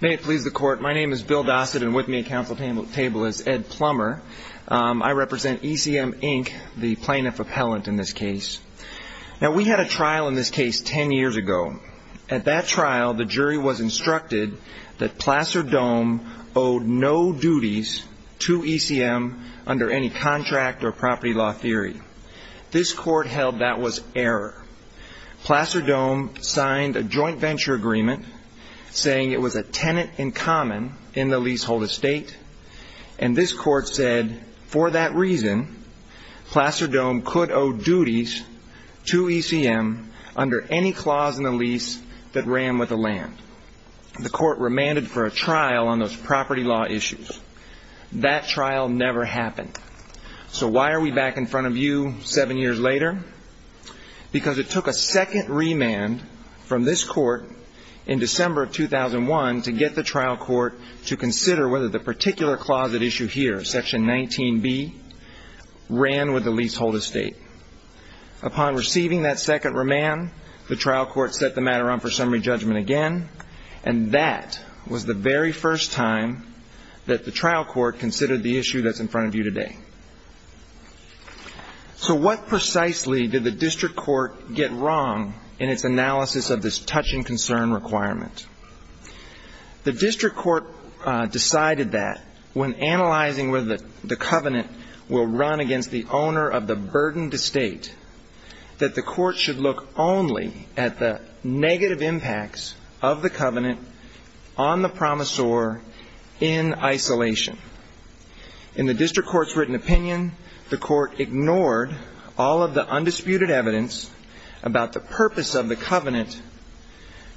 May it please the court, my name is Bill Dossett and with me at council table is Ed Plummer. I represent ECM Inc., the plaintiff appellant in this case. Now we had a trial in this case ten years ago. At that trial, the jury was instructed that Placer Dome owed no duties to ECM under any contract or property law theory. This court held that was error. Placer Dome signed a joint venture agreement saying it was a tenant in common in the leasehold estate. And this court said for that reason, Placer Dome could owe duties to ECM under any clause in the lease that ran with the land. The court remanded for a trial on those property law issues. That trial never happened. So why are we back in front of you seven years later? Because it took a second remand from this court in December of 2001 to get the trial court to consider whether the particular closet issue here, section 19B, ran with the leasehold estate. Upon receiving that second remand, the trial court set the matter up for summary judgment again. And that was the very first time that the trial court considered the issue that's in front of you today. So what precisely did the district court get wrong in its analysis of this touch-and-concern requirement? The district court decided that when analyzing whether the covenant will run against the owner of the burdened estate, that the court should look only at the negative impacts of the covenant on the promisor in isolation. In the district court's written opinion, the court ignored all of the undisputed evidence about the purpose of the covenant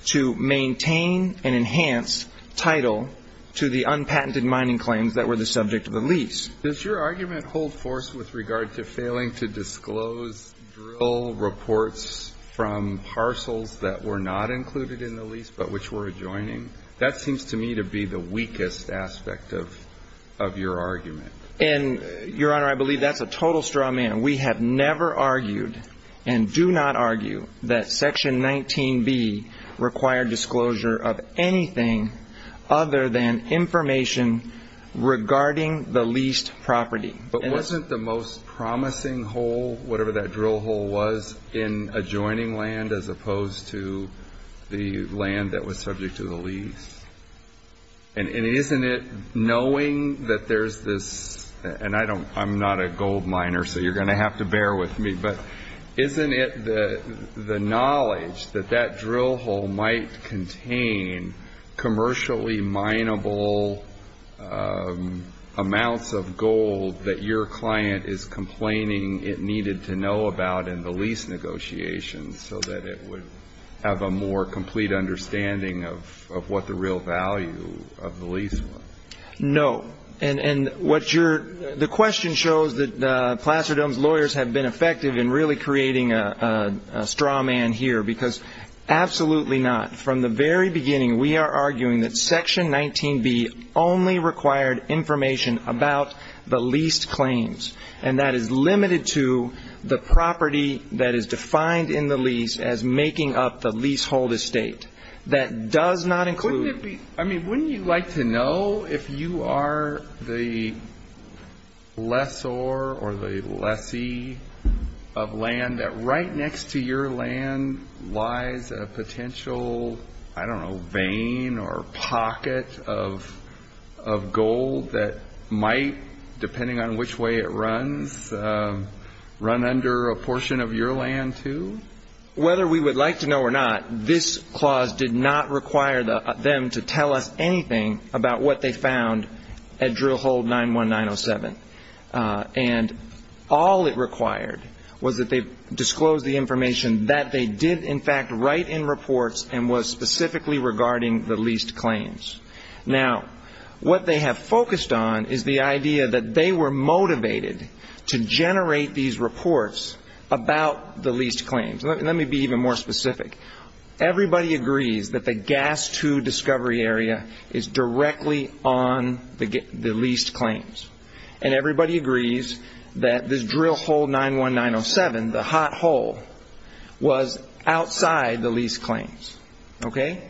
to maintain and enhance title to the unpatented mining claims that were the subject of the lease. Does your argument hold force with regard to failing to disclose drill reports from parcels that were not included in the lease, but which were adjoining? That seems to me to be the weakest aspect of your argument. And, Your Honor, I believe that's a total straw man. We have never argued and do not argue that section 19B required disclosure of anything other than information regarding the leased property. But wasn't the most promising hole, whatever that drill hole was, in adjoining land as opposed to the land that was subject to the lease? And isn't it, knowing that there's this, and I'm not a gold miner, so you're going to have to bear with me, but isn't it the knowledge that that drill hole might contain commercially mineable amounts of gold that your client is complaining it needed to know about in the lease negotiations so that it would have a more complete understanding of what the real value of the lease was? No. And the question shows that Plasterdome's lawyers have been effective in really creating a straw man here, because absolutely not. From the very beginning, we are arguing that section 19B only required information about the leased claims, and that is limited to the property that is defined in the lease as making up the leasehold estate. That does not include the leasehold estate. I don't know, vein or pocket of gold that might, depending on which way it runs, run under a portion of your land too? Whether we would like to know or not, this clause did not require them to tell us anything about what they found at drill hole 91907. And all it required was that they disclose the information that they did, in fact, write in reports and was specifically regarding the leased claims. Now, what they have focused on is the idea that they were motivated to generate these reports about the leased claims. Let me be even more specific. Everybody agrees that the gas 2 discovery area is directly on the leased claims, and everybody agrees that this drill hole 91907, the hot hole, was outside the leased claims. Okay?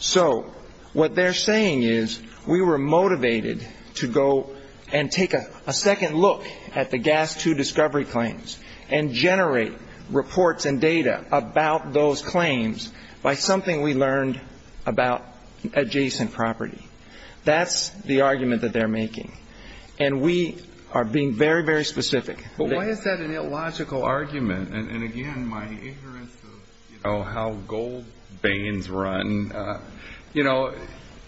So what they're saying is we were motivated to go and take a second look at the gas 2 discovery claims and generate reports and data about those claims by something we learned about adjacent property. That's the argument that they're making. And we are being very, very specific. But why is that an illogical argument? And, again, my ignorance of, you know, how gold veins run. You know,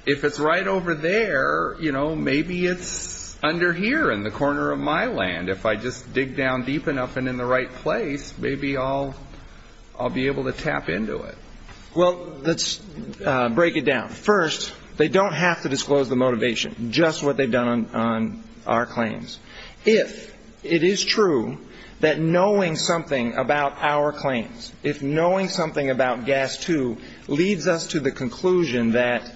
if it's right over there, you know, maybe it's under here in the corner of my land. If I just dig down deep enough and in the right place, maybe I'll be able to tap into it. Well, let's break it down. First, they don't have to disclose the motivation, just what they've done on our claims. If it is true that knowing something about our claims, if knowing something about gas 2 leads us to the conclusion that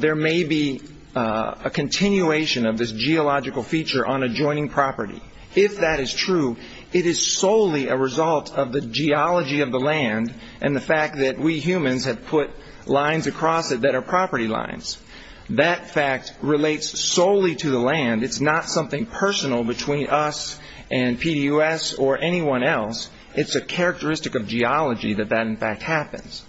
there may be a continuation of this geological feature on adjoining property, if that is true, it is solely a result of the geology of the land and the fact that we humans have put lines across it that are property lines. That fact relates solely to the land. It's not something personal between us and PDUS or anyone else. It's a characteristic of geology that that, in fact, happens.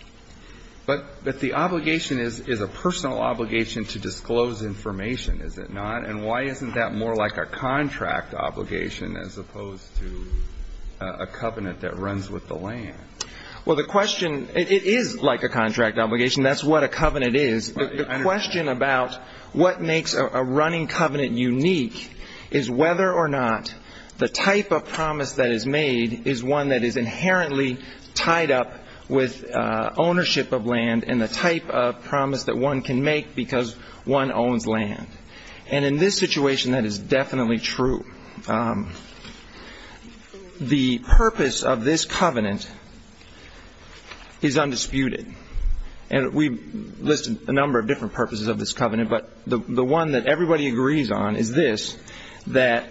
But the obligation is a personal obligation to disclose information, is it not? And why isn't that more like a contract obligation as opposed to a covenant that runs with the land? Well, the question, it is like a contract obligation. That's what a covenant is. The question about what makes a running covenant unique is whether or not the type of promise that is made is one that is inherently tied up with ownership of land and the type of promise that one can make because one owns land. And in this situation, that is definitely true. The purpose of this covenant is undisputed. And we've listed a number of different purposes of this covenant, but the one that everybody agrees on is this, that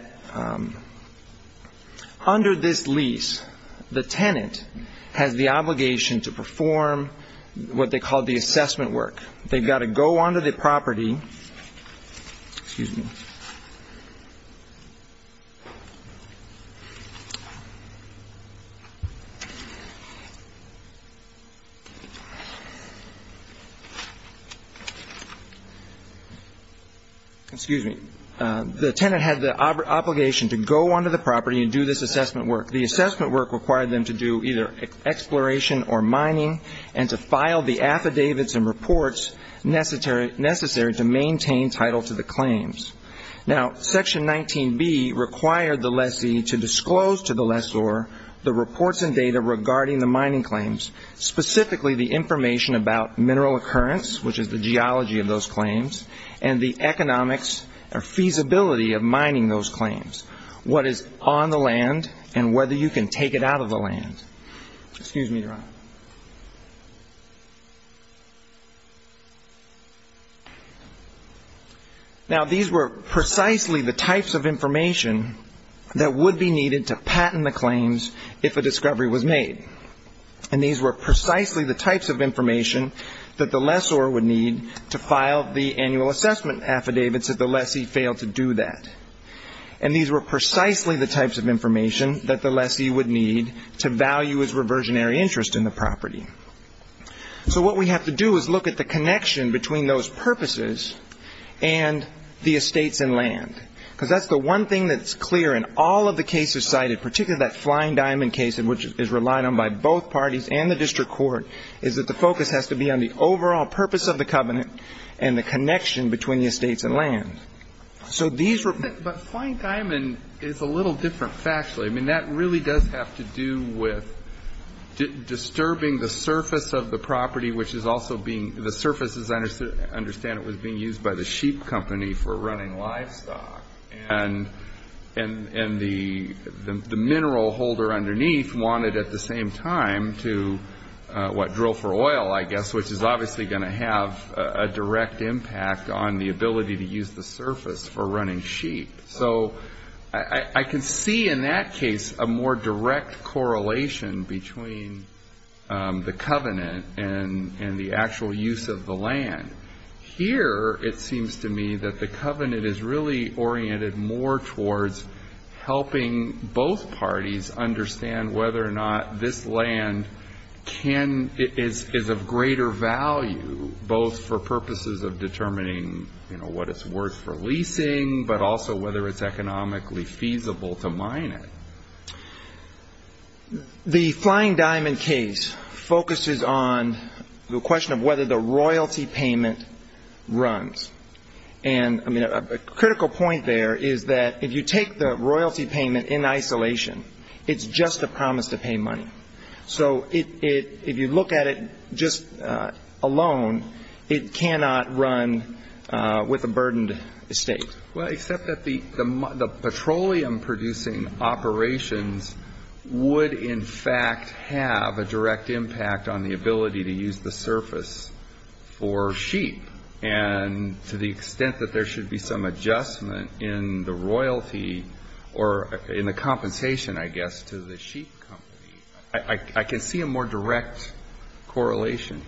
under this lease, the tenant has the obligation to perform what they call the assessment work. They've got to go onto the property. Excuse me. Excuse me. The tenant had the obligation to go onto the property and do this assessment work. The assessment work required them to do either exploration or mining and to file the affidavits and reports necessary to maintain title to the claims. Now, Section 19B required the lessee to disclose to the lessor the reports and data regarding the mining claims, specifically the information about mineral occurrence, which is the geology of those claims, and the economics or feasibility of mining those claims, what is on the land, and whether you can take it out of the land. Excuse me, Your Honor. Now, these were precisely the types of information that would be needed to patent the claims if a discovery was made. And these were precisely the types of information that the lessor would need to file the annual assessment affidavits if the lessee failed to do that. And these were precisely the types of information that the lessee would need to value his reversionary interest in the property. So what we have to do is look at the connection between those purposes and the estates and land, because that's the one thing that's clear in all of the cases cited, particularly that Flying Diamond case, which is relied on by both parties and the district court, is that the focus has to be on the overall purpose of the covenant and the connection between the estates and land. But Flying Diamond is a little different factually. I mean, that really does have to do with disturbing the surface of the property, which is also being the surface, as I understand it, was being used by the sheep company for running livestock. And the mineral holder underneath wanted at the same time to, what, drill for oil, I guess, which is obviously going to have a direct impact on the ability to use the surface for running sheep. So I can see in that case a more direct correlation between the covenant and the actual use of the land. Here it seems to me that the covenant is really oriented more towards helping both parties understand whether or not this land is of greater value, both for purposes of determining, you know, what it's worth for leasing but also whether it's economically feasible to mine it. The Flying Diamond case focuses on the question of whether the royalty payment runs. And, I mean, a critical point there is that if you take the royalty payment in isolation, it's just a promise to pay money. So if you look at it just alone, it cannot run with a burdened estate. Well, except that the petroleum-producing operations would, in fact, have a direct impact on the ability to use the surface for sheep. And to the extent that there should be some adjustment in the royalty or in the compensation, I guess, to the sheep company, I can see a more direct correlation.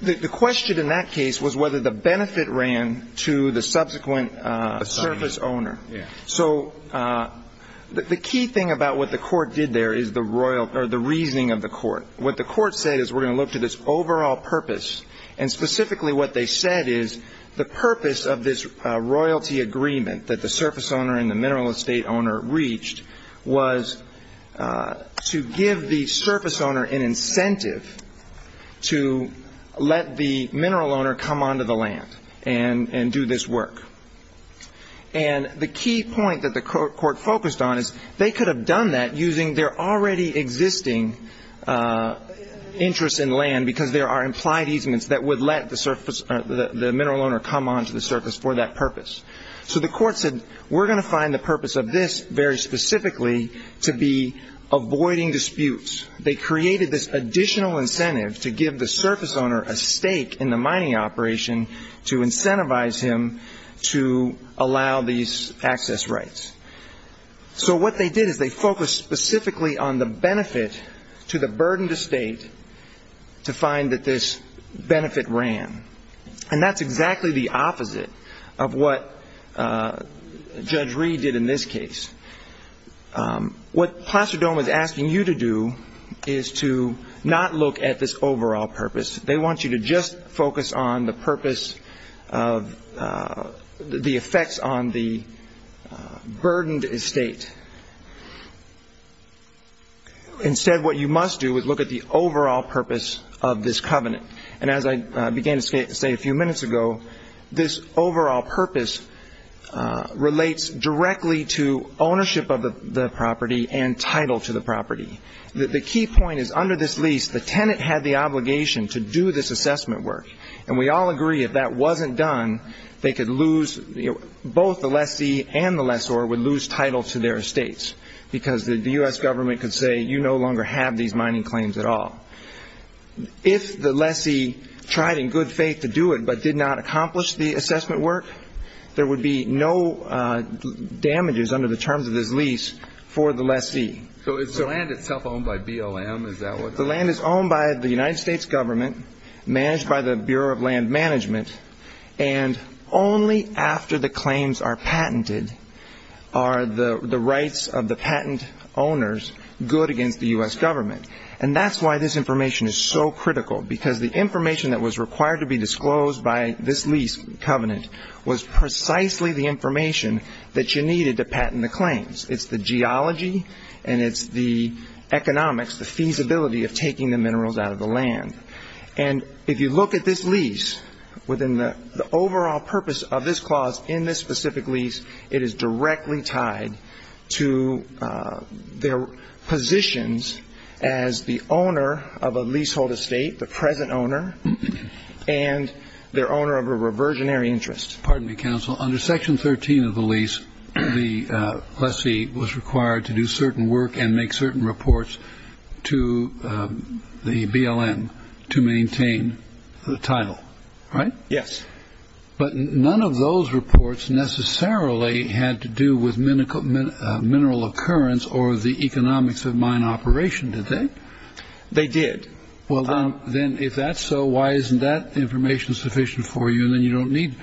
The question in that case was whether the benefit ran to the subsequent surface owner. So the key thing about what the Court did there is the reasoning of the Court. What the Court said is we're going to look to this overall purpose. And specifically what they said is the purpose of this royalty agreement that the surface owner and the mineral estate owner reached was to give the surface owner an incentive to let the mineral owner come onto the land and do this work. And the key point that the Court focused on is they could have done that using their already existing interest in land because there are implied easements that would let the mineral owner come onto the surface for that purpose. So the Court said we're going to find the purpose of this very specifically to be avoiding disputes. They created this additional incentive to give the surface owner a stake in the mining operation to incentivize him to allow these access rights. So what they did is they focused specifically on the benefit to the burdened estate to find that this benefit ran. And that's exactly the opposite of what Judge Reed did in this case. What Plasterdome is asking you to do is to not look at this overall purpose. They want you to just focus on the purpose of the effects on the burdened estate. Instead, what you must do is look at the overall purpose of this covenant. And as I began to say a few minutes ago, this overall purpose relates directly to ownership of the property and title to the property. The key point is under this lease, the tenant had the obligation to do this assessment work. And we all agree if that wasn't done, they could lose both the lessee and the lessor would lose title to their estates because the U.S. government could say you no longer have these mining claims at all. If the lessee tried in good faith to do it but did not accomplish the assessment work, there would be no damages under the terms of this lease for the lessee. So is the land itself owned by BLM? The land is owned by the United States government, managed by the Bureau of Land Management, and only after the claims are patented are the rights of the patent owners good against the U.S. government. And that's why this information is so critical, because the information that was required to be disclosed by this lease covenant It's the geology and it's the economics, the feasibility of taking the minerals out of the land. And if you look at this lease, within the overall purpose of this clause in this specific lease, it is directly tied to their positions as the owner of a leasehold estate, the present owner, and their owner of a reversionary interest. Pardon me, counsel. Under Section 13 of the lease, the lessee was required to do certain work and make certain reports to the BLM to maintain the title, right? Yes. But none of those reports necessarily had to do with mineral occurrence or the economics of mine operation, did they? They did. Well, then if that's so, why isn't that information sufficient for you? And then you don't need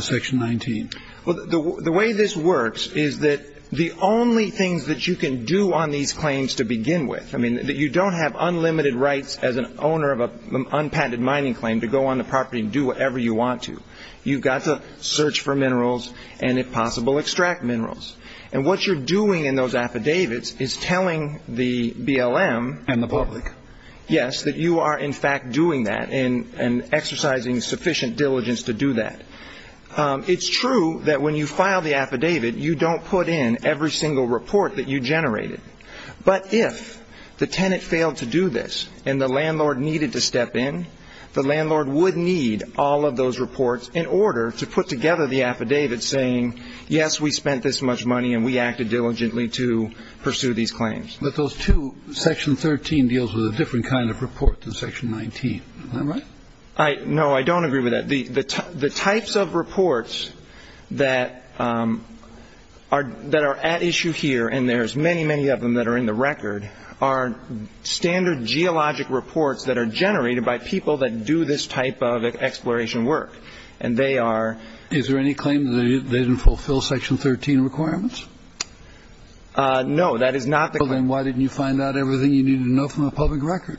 Section 19. Well, the way this works is that the only things that you can do on these claims to begin with, I mean, that you don't have unlimited rights as an owner of an unpatented mining claim to go on the property and do whatever you want to. You've got to search for minerals and, if possible, extract minerals. And what you're doing in those affidavits is telling the BLM. And the public. Yes, that you are, in fact, doing that and exercising sufficient diligence to do that. It's true that when you file the affidavit, you don't put in every single report that you generated. But if the tenant failed to do this and the landlord needed to step in, the landlord would need all of those reports in order to put together the affidavit saying, yes, we spent this much money and we acted diligently to pursue these claims. But those two Section 13 deals with a different kind of report than Section 19. All right. I know. I don't agree with that. The types of reports that are that are at issue here, and there's many, many of them that are in the record are standard geologic reports that are generated by people that do this type of exploration work. And they are. Is there any claim that they didn't fulfill Section 13 requirements? No. That is not the claim. Then why didn't you find out everything you needed to know from the public record?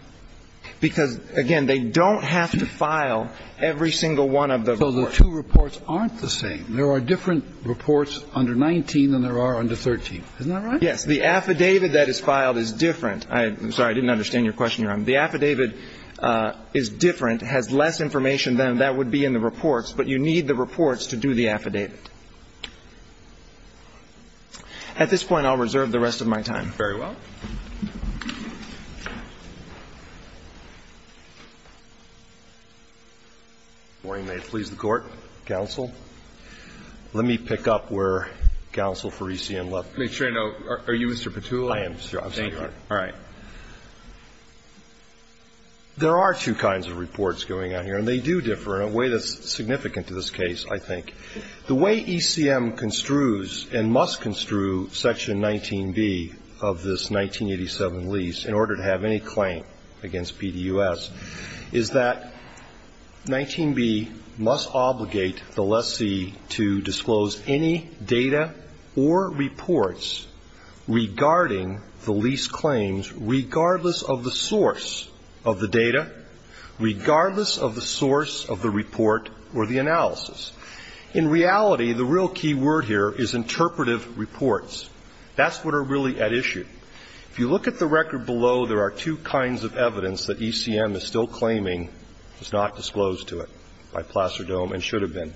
Because, again, they don't have to file every single one of the reports. So the two reports aren't the same. There are different reports under 19 than there are under 13. Isn't that right? Yes. The affidavit that is filed is different. I'm sorry. I didn't understand your question, Your Honor. The affidavit is different, has less information than that would be in the reports. But you need the reports to do the affidavit. At this point, I'll reserve the rest of my time. Very well. If you may, please, the Court, Counsel. Let me pick up where Counsel Faresian left off. Are you Mr. Patula? I am. Thank you. All right. There are two kinds of reports going on here, and they do differ in a way that's significant to this case, I think. The way ECM construes and must construe Section 19B of this 1987 lease in order to have any claim against PDUS is that 19B must obligate the lessee to disclose any data or reports regarding the lease claims, regardless of the source of the data, regardless of the source of the report or the analysis. In reality, the real key word here is interpretive reports. That's what are really at issue. If you look at the record below, there are two kinds of evidence that ECM is still claiming is not disclosed to it by Placidome and should have been.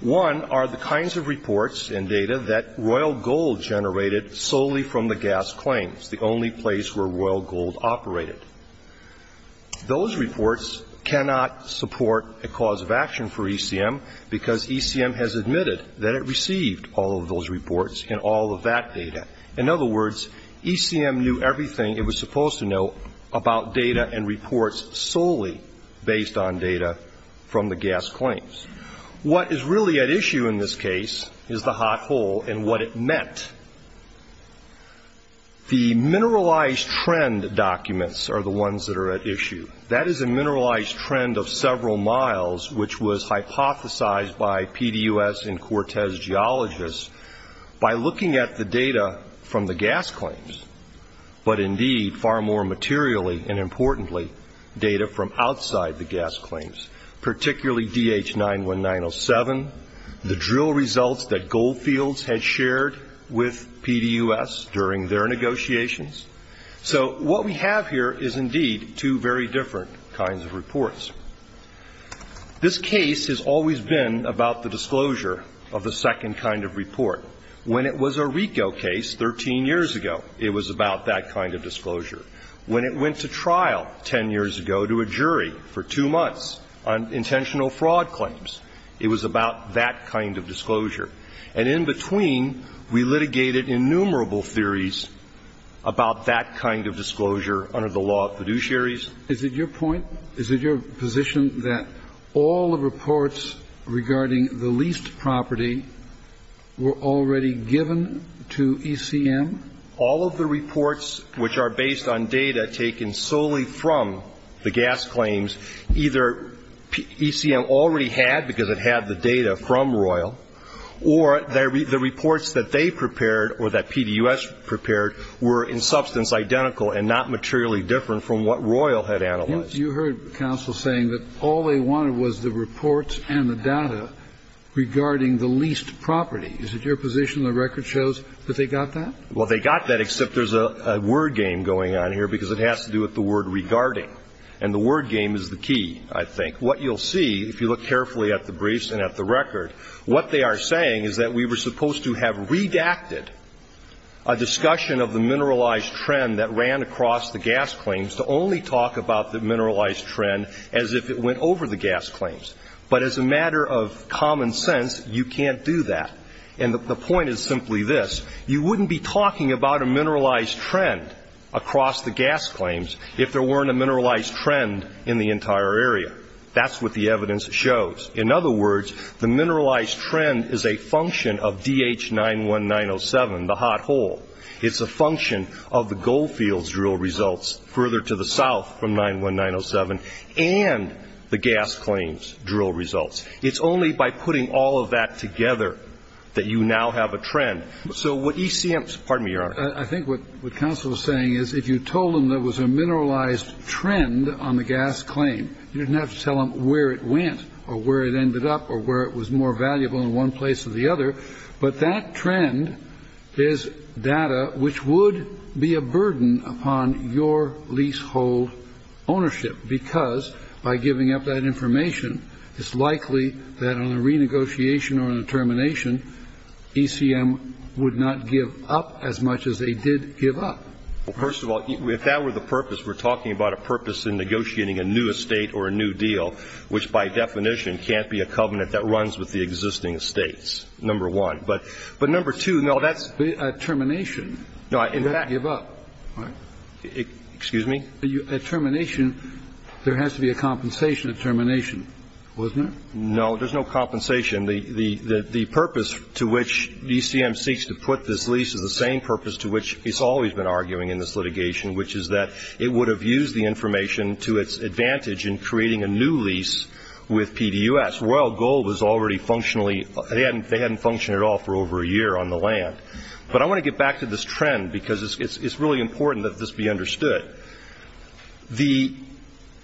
One are the kinds of reports and data that Royal Gold generated solely from the gas claims, the only place where Royal Gold operated. Those reports cannot support a cause of action for ECM because ECM has admitted that it received all of those reports and all of that data. In other words, ECM knew everything it was supposed to know about data and reports solely based on data from the gas claims. What is really at issue in this case is the hot hole and what it meant. The mineralized trend documents are the ones that are at issue. That is a mineralized trend of several miles, which was hypothesized by PDUS and Cortez geologists by looking at the data from the gas claims, but indeed far more materially and, importantly, data from outside the gas claims, particularly DH-91907, the drill results that Goldfields had shared with PDUS during their negotiations. So what we have here is indeed two very different kinds of reports. This case has always been about the disclosure of the second kind of report. When it was a RICO case 13 years ago, it was about that kind of disclosure. When it went to trial 10 years ago to a jury for two months on intentional fraud claims, it was about that kind of disclosure. And in between, we litigated innumerable theories about that kind of disclosure under the law of fiduciaries. Is it your point? Is it your position that all the reports regarding the leased property were already given to ECM? All of the reports which are based on data taken solely from the gas claims, either ECM already had because it had the data from Royal, or the reports that they prepared or that PDUS prepared were in substance identical and not materially different from what Royal had analyzed. You heard counsel saying that all they wanted was the reports and the data regarding the leased property. Is it your position the record shows that they got that? Well, they got that except there's a word game going on here because it has to do with the word regarding. And the word game is the key, I think. What you'll see, if you look carefully at the briefs and at the record, what they are saying is that we were supposed to have redacted a discussion of the mineralized trend that ran across the gas claims to only talk about the mineralized trend as if it went over the gas claims. But as a matter of common sense, you can't do that. And the point is simply this. You wouldn't be talking about a mineralized trend across the gas claims if there weren't a mineralized trend in the entire area. That's what the evidence shows. In other words, the mineralized trend is a function of DH-91907, the hot hole. It's a function of the Goldfields drill results further to the south from 91907 and the gas claims drill results. It's only by putting all of that together that you now have a trend. So what ECM's, pardon me, Your Honor. I think what counsel is saying is if you told them there was a mineralized trend on the gas claim, you didn't have to tell them where it went or where it ended up or where it was more valuable in one place or the other. But that trend is data which would be a burden upon your leasehold ownership, because by giving up that information, it's likely that on a renegotiation or a termination, ECM would not give up as much as they did give up. Well, first of all, if that were the purpose, we're talking about a purpose in negotiating a new estate or a new deal, which by definition can't be a covenant that runs with the existing estates, number one. But number two, no, that's the termination. No, in fact. It would give up. Excuse me? At termination, there has to be a compensation at termination, wasn't there? No, there's no compensation. The purpose to which ECM seeks to put this lease is the same purpose to which it's always been arguing in this litigation, which is that it would have used the information to its advantage in creating a new lease with PDUS. Royal Gold was already functionally they hadn't functioned at all for over a year on the land. But I want to get back to this trend, because it's really important that this be understood. The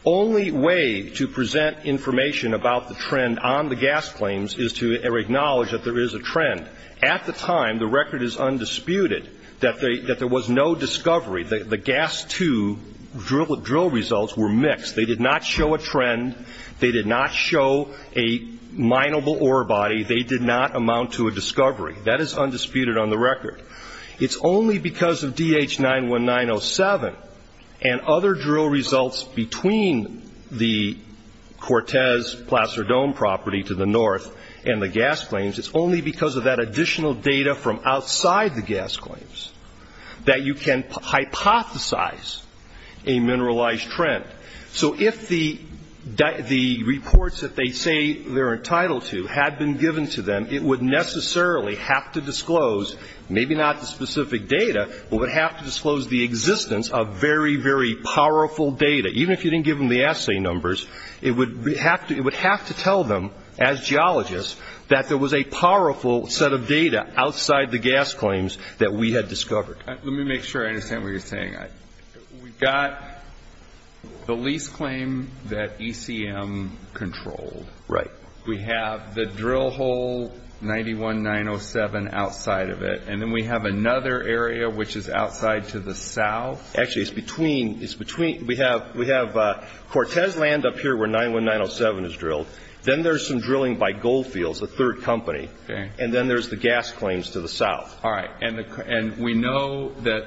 only way to present information about the trend on the gas claims is to acknowledge that there is a trend. At the time, the record is undisputed that there was no discovery. The gas two drill results were mixed. They did not show a trend. They did not show a mineable ore body. They did not amount to a discovery. That is undisputed on the record. It's only because of DH 91907 and other drill results between the Cortez Placer Dome property to the north and the gas claims, it's only because of that additional data from outside the gas claims that you can hypothesize a mineralized trend. So if the reports that they say they're entitled to had been given to them, it would necessarily have to disclose, maybe not the specific data, but would have to disclose the existence of very, very powerful data. Even if you didn't give them the assay numbers, it would have to tell them as geologists that there was a powerful set of data outside the gas claims that we had discovered. Let me make sure I understand what you're saying. We've got the lease claim that ECM controlled. Right. We have the drill hole 91907 outside of it, and then we have another area which is outside to the south. Actually, it's between. We have Cortez Land up here where 91907 is drilled. Then there's some drilling by Goldfields, the third company. Okay. And then there's the gas claims to the south. All right. And we know that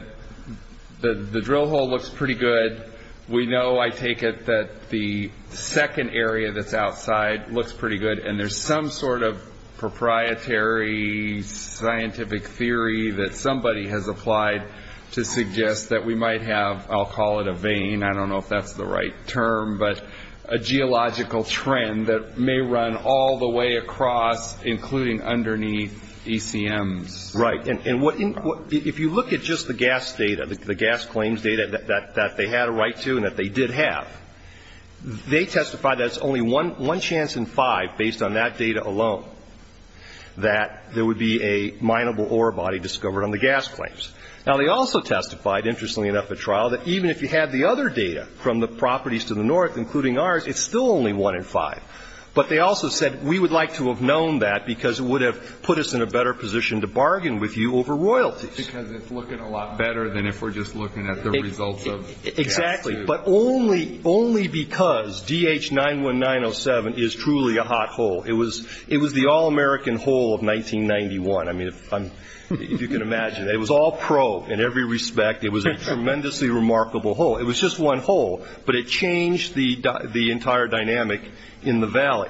the drill hole looks pretty good. We know, I take it, that the second area that's outside looks pretty good, and there's some sort of proprietary scientific theory that somebody has applied to suggest that we might have, I'll call it a vein, I don't know if that's the right term, but a geological trend that may run all the way across, including underneath ECMs. Right. And if you look at just the gas data, the gas claims data that they had a right to and that they did have, they testified that it's only one chance in five, based on that data alone, that there would be a mineable ore body discovered on the gas claims. Now, they also testified, interestingly enough, at trial, that even if you had the other data from the properties to the north, including ours, it's still only one in five. But they also said, we would like to have known that, because it would have put us in a better position to bargain with you over royalties. Because it's looking a lot better than if we're just looking at the results of gas tubes. Exactly. But only because DH-91907 is truly a hot hole. It was the all-American hole of 1991. I mean, if you can imagine. It was all pro in every respect. It was a tremendously remarkable hole. It was just one hole, but it changed the entire dynamic in the Valley.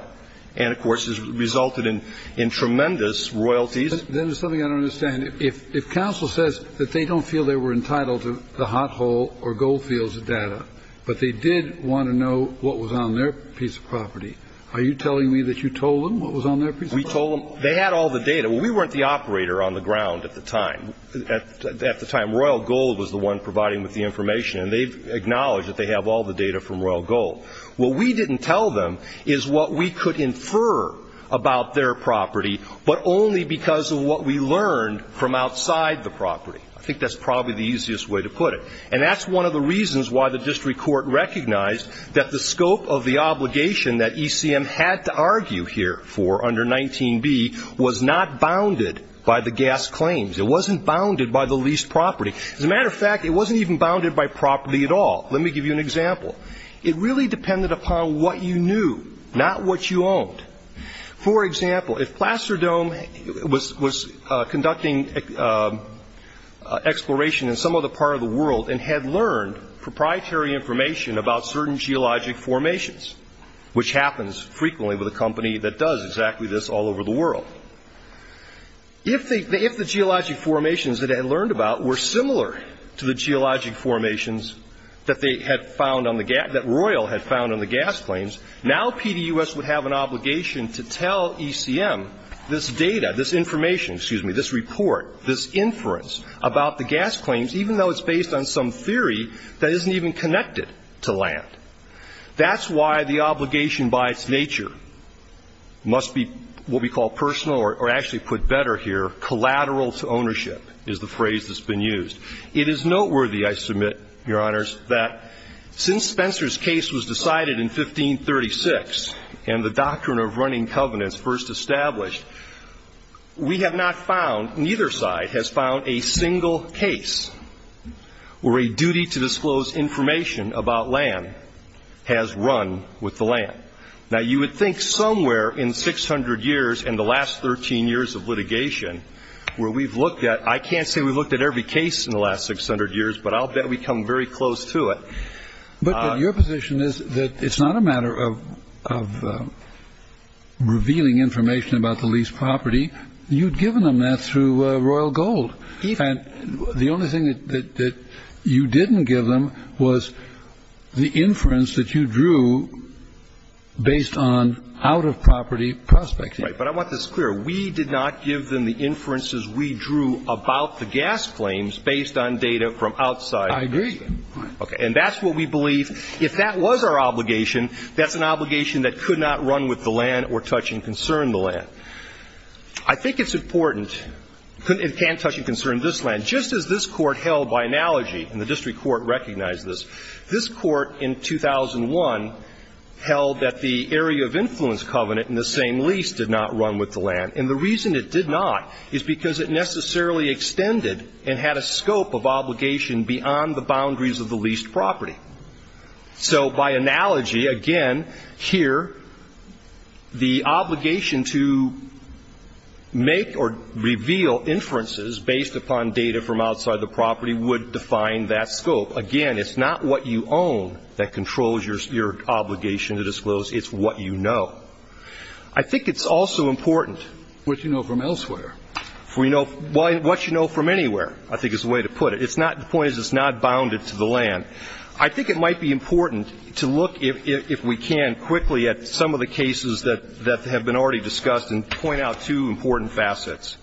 And, of course, it resulted in tremendous royalties. Then there's something I don't understand. If counsel says that they don't feel they were entitled to the hot hole or gold fields data, but they did want to know what was on their piece of property, are you telling me that you told them what was on their piece of property? We told them. They had all the data. We weren't the operator on the ground at the time. Royal Gold was the one providing the information, and they've acknowledged that they have all the data from Royal Gold. What we didn't tell them is what we could infer about their property, but only because of what we learned from outside the property. I think that's probably the easiest way to put it. And that's one of the reasons why the district court recognized that the scope of the obligation that ECM had to argue here for under 19b was not bounded by the gas claims. It wasn't bounded by the leased property. As a matter of fact, it wasn't even bounded by property at all. Let me give you an example. It really depended upon what you knew, not what you owned. For example, if Plasterdome was conducting exploration in some other part of the world and had learned proprietary information about certain geologic formations, which happens frequently with a company that does exactly this all over the world, if the geologic formations that it had learned about were similar to the geologic formations that they had found on the gas, that Royal had found on the gas claims, now PDUS would have an obligation to tell ECM this data, this information, excuse me, this report, this inference about the gas claims, even though it's based on some theory that isn't even connected to land. That's why the obligation by its nature must be what we call personal, or actually put better here, collateral to ownership, is the phrase that's been used. It is noteworthy, I submit, Your Honors, that since Spencer's case was decided in 1536 and the doctrine of running covenants first established, we have not found, neither side has found, a single case where a duty to disclose information about land has run with the land. Now, you would think somewhere in 600 years and the last 13 years of litigation where we've looked at, I can't say we've looked at every case in the last 600 years, but I'll bet we come very close to it. But your position is that it's not a matter of revealing information about the leased property. You'd given them that through Royal Gold. And the only thing that you didn't give them was the inference that you drew based on out-of-property prospecting. But I want this clear. We did not give them the inferences we drew about the gas claims based on data from outside. I agree. And that's what we believe. If that was our obligation, that's an obligation that could not run with the land or touch and concern the land. I think it's important. It can't touch and concern this land. Just as this Court held by analogy, and the district court recognized this, this Court in 2001 held that the area of influence covenant in the same lease did not run with the land. And the reason it did not is because it necessarily extended and had a scope of obligation beyond the boundaries of the leased property. So by analogy, again, here, the obligation to make or reveal inferences based upon data from outside the property would define that scope. Again, it's not what you own that controls your obligation to disclose. It's what you know. I think it's also important. What you know from elsewhere. What you know from anywhere, I think, is the way to put it. The point is it's not bounded to the land. I think it might be important to look, if we can, quickly at some of the cases that have been already discussed and point out two important facets.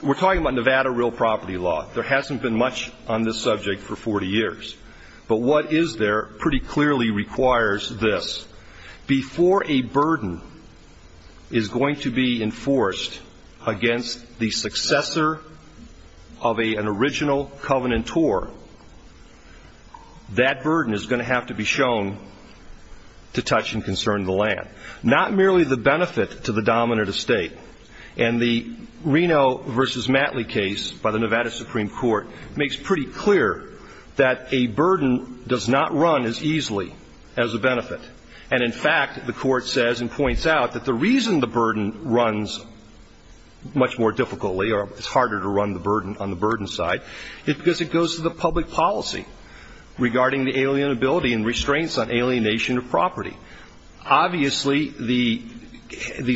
We're talking about Nevada real property law. There hasn't been much on this subject for 40 years. But what is there pretty clearly requires this. Before a burden is going to be enforced against the successor of an original covenantor, that burden is going to have to be shown to touch and concern the land. Not merely the benefit to the dominant estate. And the Reno v. Matley case by the Nevada Supreme Court makes pretty clear that a burden does not run as easily as a benefit. And, in fact, the Court says and points out that the reason the burden runs much more difficultly or it's harder to run the burden on the burden side is because it goes to the public policy regarding the alienability and restraints on alienation of property. Obviously, the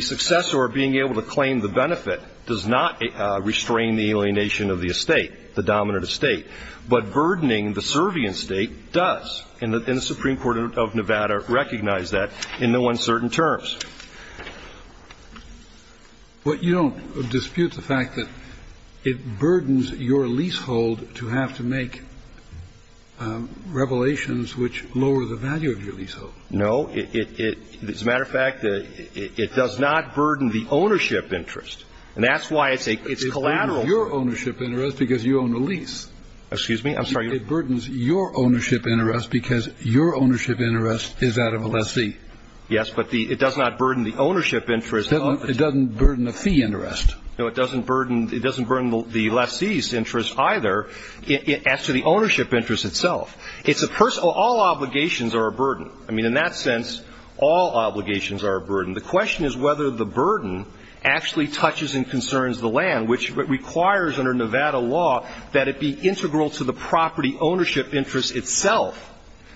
successor being able to claim the benefit does not restrain the alienation of the estate, the dominant estate. But burdening the Servian estate does. And the Supreme Court of Nevada recognized that in no uncertain terms. But you don't dispute the fact that it burdens your leasehold to have to make revelations which lower the value of your leasehold. No. As a matter of fact, it does not burden the ownership interest. And that's why it's collateral. It burdens your ownership interest because you own the lease. Excuse me? I'm sorry. It burdens your ownership interest because your ownership interest is out of a lessee. Yes. But it does not burden the ownership interest. It doesn't burden the fee interest. No. It doesn't burden the lessee's interest either as to the ownership interest itself. It's a personal. All obligations are a burden. I mean, in that sense, all obligations are a burden. The question is whether the burden actually touches and concerns the land, which requires under Nevada law that it be integral to the property ownership interest itself,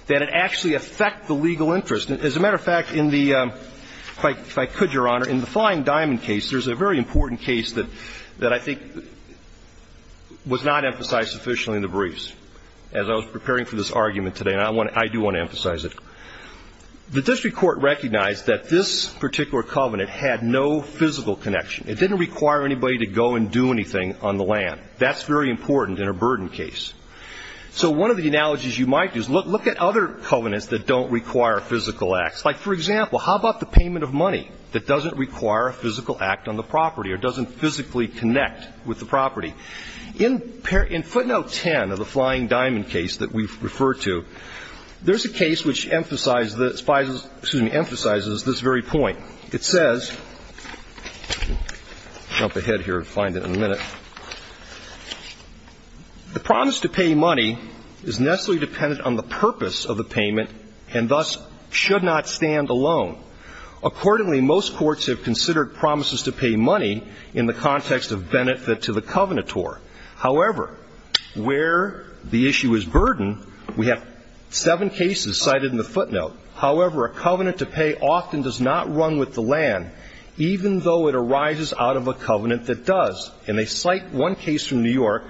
that it actually affect the legal interest. As a matter of fact, in the, if I could, Your Honor, in the Flying Diamond case, there's a very important case that I think was not emphasized sufficiently in the briefs as I was preparing for this argument today, and I do want to emphasize it. The district court recognized that this particular covenant had no physical connection. It didn't require anybody to go and do anything on the land. That's very important in a burden case. So one of the analogies you might do is look at other covenants that don't require physical acts. Like, for example, how about the payment of money that doesn't require a physical act on the property or doesn't physically connect with the property? In footnote 10 of the Flying Diamond case that we've referred to, there's a case which emphasizes this very point. It says, jump ahead here and find it in a minute, the promise to pay money is necessarily dependent on the purpose of the payment and thus should not stand alone. Accordingly, most courts have considered promises to pay money in the context of benefit to the covenantor. However, where the issue is burden, we have seven cases cited in the footnote. However, a covenant to pay often does not run with the land, even though it arises out of a covenant that does. And they cite one case from New York,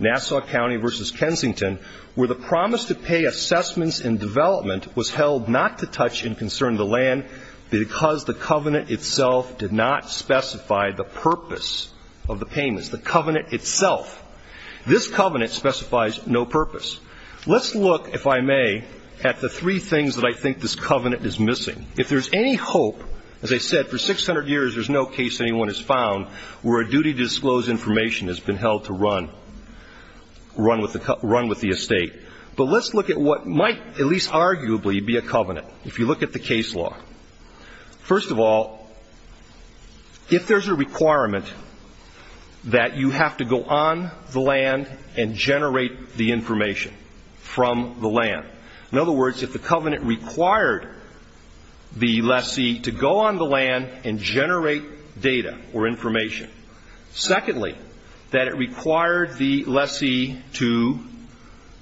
Nassau County v. Kensington, where the promise to pay assessments in development was held not to touch in concern the land because the covenant itself did not specify the purpose of the payments, the covenant itself. This covenant specifies no purpose. Let's look, if I may, at the three things that I think this covenant is missing. If there's any hope, as I said, for 600 years there's no case anyone has found where a duty to disclose information has been held to run with the estate. But let's look at what might at least arguably be a covenant, if you look at the case law. First of all, if there's a requirement that you have to go on the land and generate the information from the land, in other words, if the covenant required the lessee to go on the land and generate data or information. Secondly, that it required the lessee to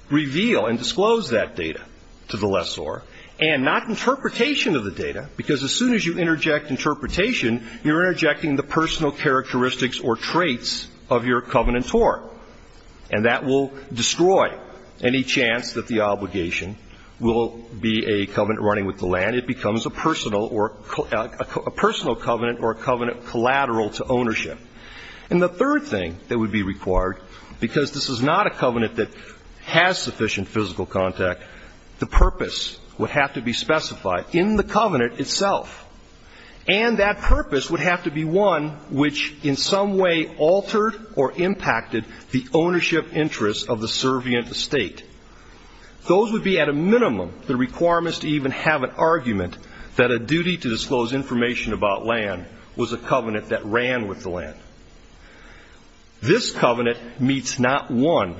reveal and disclose that data to the lessor, and not interpretation of the data, because as soon as you interject interpretation, you're interjecting the personal characteristics or traits of your covenantor, and that will destroy any chance that the obligation will be a covenant running with the land. It becomes a personal covenant or a covenant collateral to ownership. And the third thing that would be required, because this is not a covenant that has sufficient physical contact, the purpose would have to be specified in the covenant itself, and that purpose would have to be one which in some way altered or impacted the ownership interests of the servient estate. Those would be at a minimum the requirements to even have an argument that a duty to disclose information about land was a covenant that ran with the land. This covenant meets not one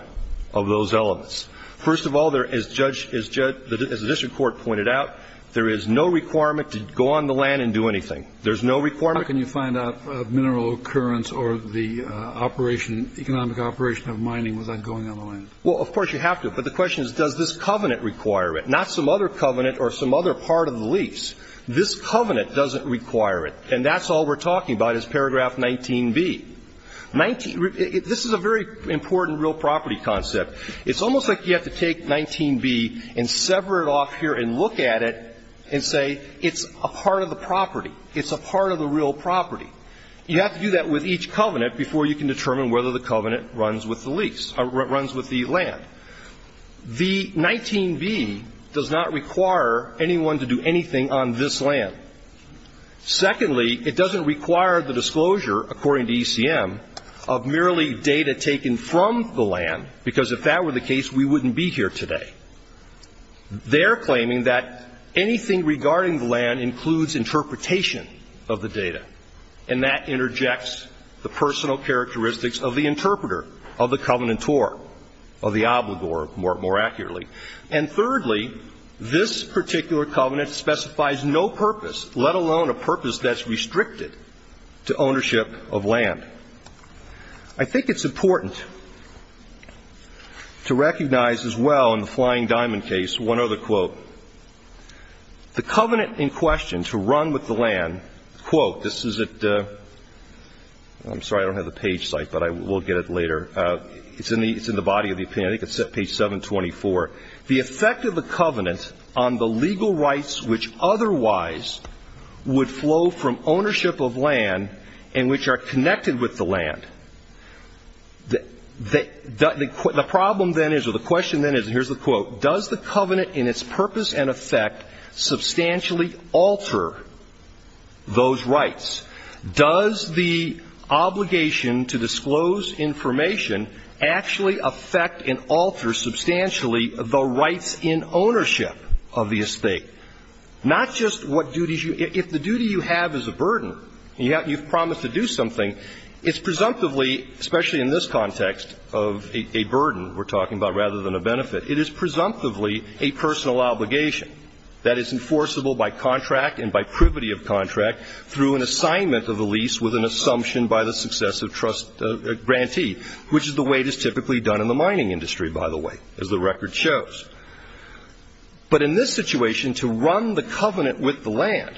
of those elements. First of all, as the district court pointed out, there is no requirement to go on the land and do anything. There's no requirement. How can you find out mineral occurrence or the economic operation of mining without going on the land? Well, of course you have to, but the question is does this covenant require it, not some other covenant or some other part of the lease. This covenant doesn't require it, and that's all we're talking about is paragraph 19B. This is a very important real property concept. It's almost like you have to take 19B and sever it off here and look at it and say it's a part of the property. It's a part of the real property. You have to do that with each covenant before you can determine whether the covenant runs with the lease or runs with the land. The 19B does not require anyone to do anything on this land. Secondly, it doesn't require the disclosure, according to ECM, of merely data taken from the land, because if that were the case, we wouldn't be here today. They're claiming that anything regarding the land includes interpretation of the data, and that interjects the personal characteristics of the interpreter, of the covenantor, of the obligor, more accurately. And thirdly, this particular covenant specifies no purpose, let alone a purpose that's I think it's important to recognize as well in the Flying Diamond case one other quote. The covenant in question to run with the land, quote, this is at the ‑‑ I'm sorry, I don't have the page site, but we'll get it later. It's in the body of the opinion. I think it's at page 724. The effect of the covenant on the legal rights which otherwise would flow from ownership of land and which are connected with the land, the problem then is, or the question then is, and here's the quote, does the covenant in its purpose and effect substantially alter those rights? Does the obligation to disclose information actually affect and alter substantially the rights in ownership of the estate? Not just what duties you ‑‑ if the duty you have is a burden, you've promised to do something, it's presumptively, especially in this context of a burden we're talking about rather than a benefit, it is presumptively a personal obligation that is enforceable by contract and by privity of contract through an assignment of the lease with an assumption by the successive trust grantee, which is the way it is typically done in the mining industry, by the way, as the record shows. But in this situation, to run the covenant with the land,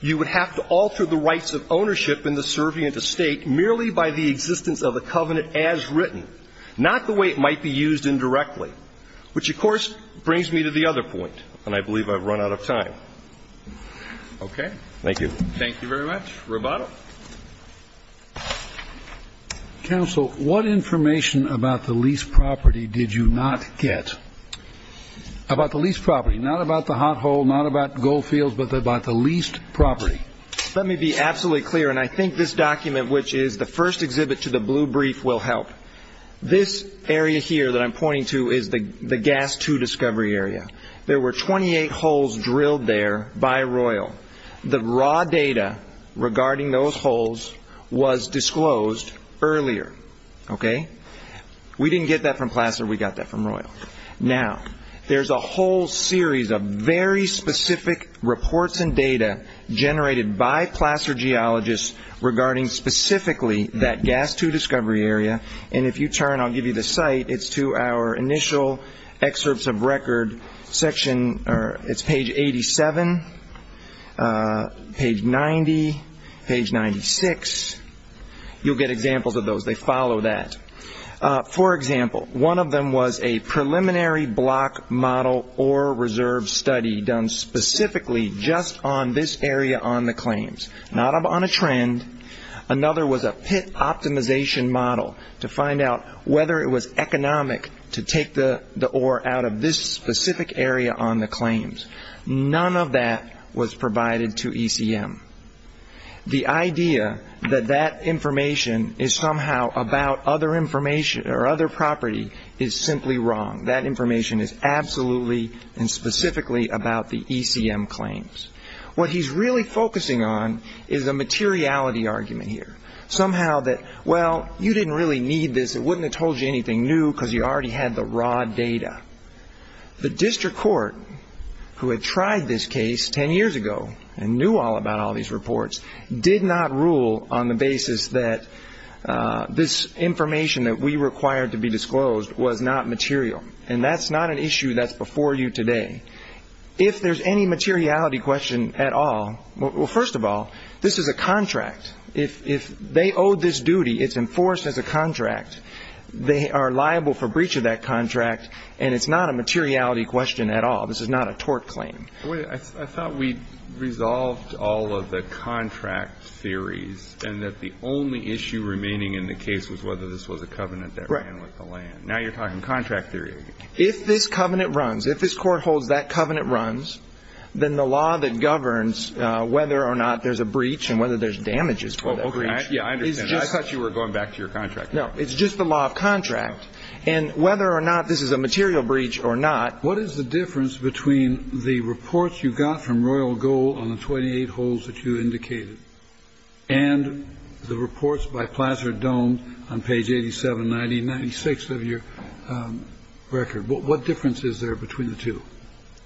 you would have to alter the rights of ownership in the servient estate merely by the existence of the covenant as written, not the way it might be used indirectly, which, of course, brings me to the other point, and I believe I've run out of time. Okay. Thank you. Thank you very much. Roboto. Counsel, what information about the leased property did you not get? About the leased property, not about the hot hole, not about Goldfields, but about the leased property. Let me be absolutely clear, and I think this document, which is the first exhibit to the blue brief, will help. This area here that I'm pointing to is the gas two discovery area. There were 28 holes drilled there by Royal. The raw data regarding those holes was disclosed earlier. We didn't get that from Placer. We got that from Royal. Now, there's a whole series of very specific reports and data generated by Placer geologists regarding specifically that gas two discovery area, and if you turn, I'll give you the site. It's to our initial excerpts of record section. It's page 87, page 90, page 96. You'll get examples of those. They follow that. For example, one of them was a preliminary block model or reserve study done specifically just on this area on the claims, not on a trend. Another was a pit optimization model to find out whether it was economic to take the ore out of this specific area on the claims. None of that was provided to ECM. The idea that that information is somehow about other information or other property is simply wrong. That information is absolutely and specifically about the ECM claims. What he's really focusing on is a materiality argument here, somehow that, well, you didn't really need this. It wouldn't have told you anything new because you already had the raw data. The district court, who had tried this case 10 years ago and knew all about all these reports, did not rule on the basis that this information that we required to be disclosed was not material, and that's not an issue that's before you today. If there's any materiality question at all, well, first of all, this is a contract. If they owe this duty, it's enforced as a contract. They are liable for breach of that contract, and it's not a materiality question at all. This is not a tort claim. I thought we resolved all of the contract theories and that the only issue remaining in the case was whether this was a covenant that ran with the land. Right. Now you're talking contract theory. If this covenant runs, if this court holds that covenant runs, then the law that governs whether or not there's a breach and whether there's damages for that breach is just the law of contract. And whether or not this is a material breach or not. What is the difference between the reports you got from Royal Gold on the 28 holes that you indicated and the reports by Placer Dome on page 8790, 96th of your record? What difference is there between the two?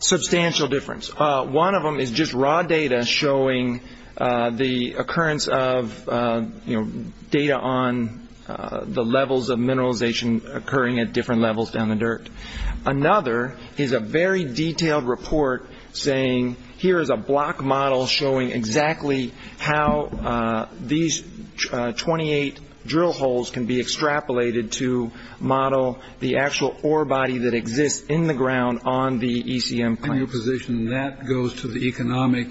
Substantial difference. One of them is just raw data showing the occurrence of data on the levels of mineralization occurring at different levels down the dirt. Another is a very detailed report saying, here is a block model showing exactly how these 28 drill holes can be extrapolated to model the actual ore body that exists in the ground on the ECM place. In your position, that goes to the economic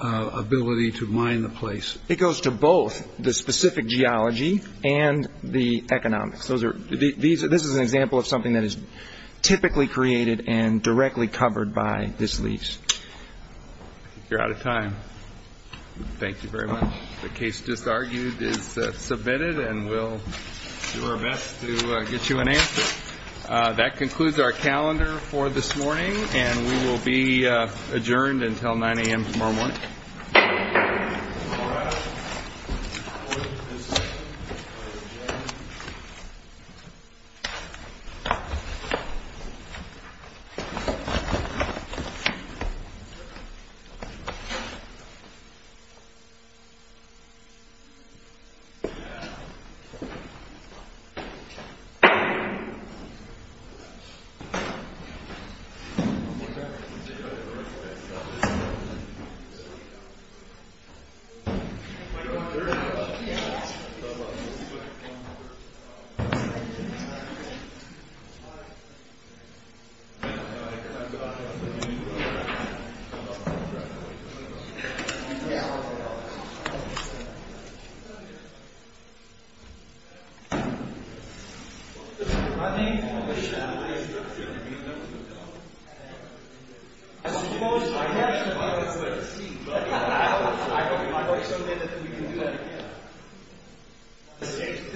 ability to mine the place. It goes to both the specific geology and the economics. This is an example of something that is typically created and directly covered by this lease. You're out of time. Thank you very much. The case just argued is submitted, and we'll do our best to get you an answer. That concludes our calendar for this morning, and we will be adjourned until 9 a.m. tomorrow morning. All rise. Thank you. My voice is still there. We can do that again.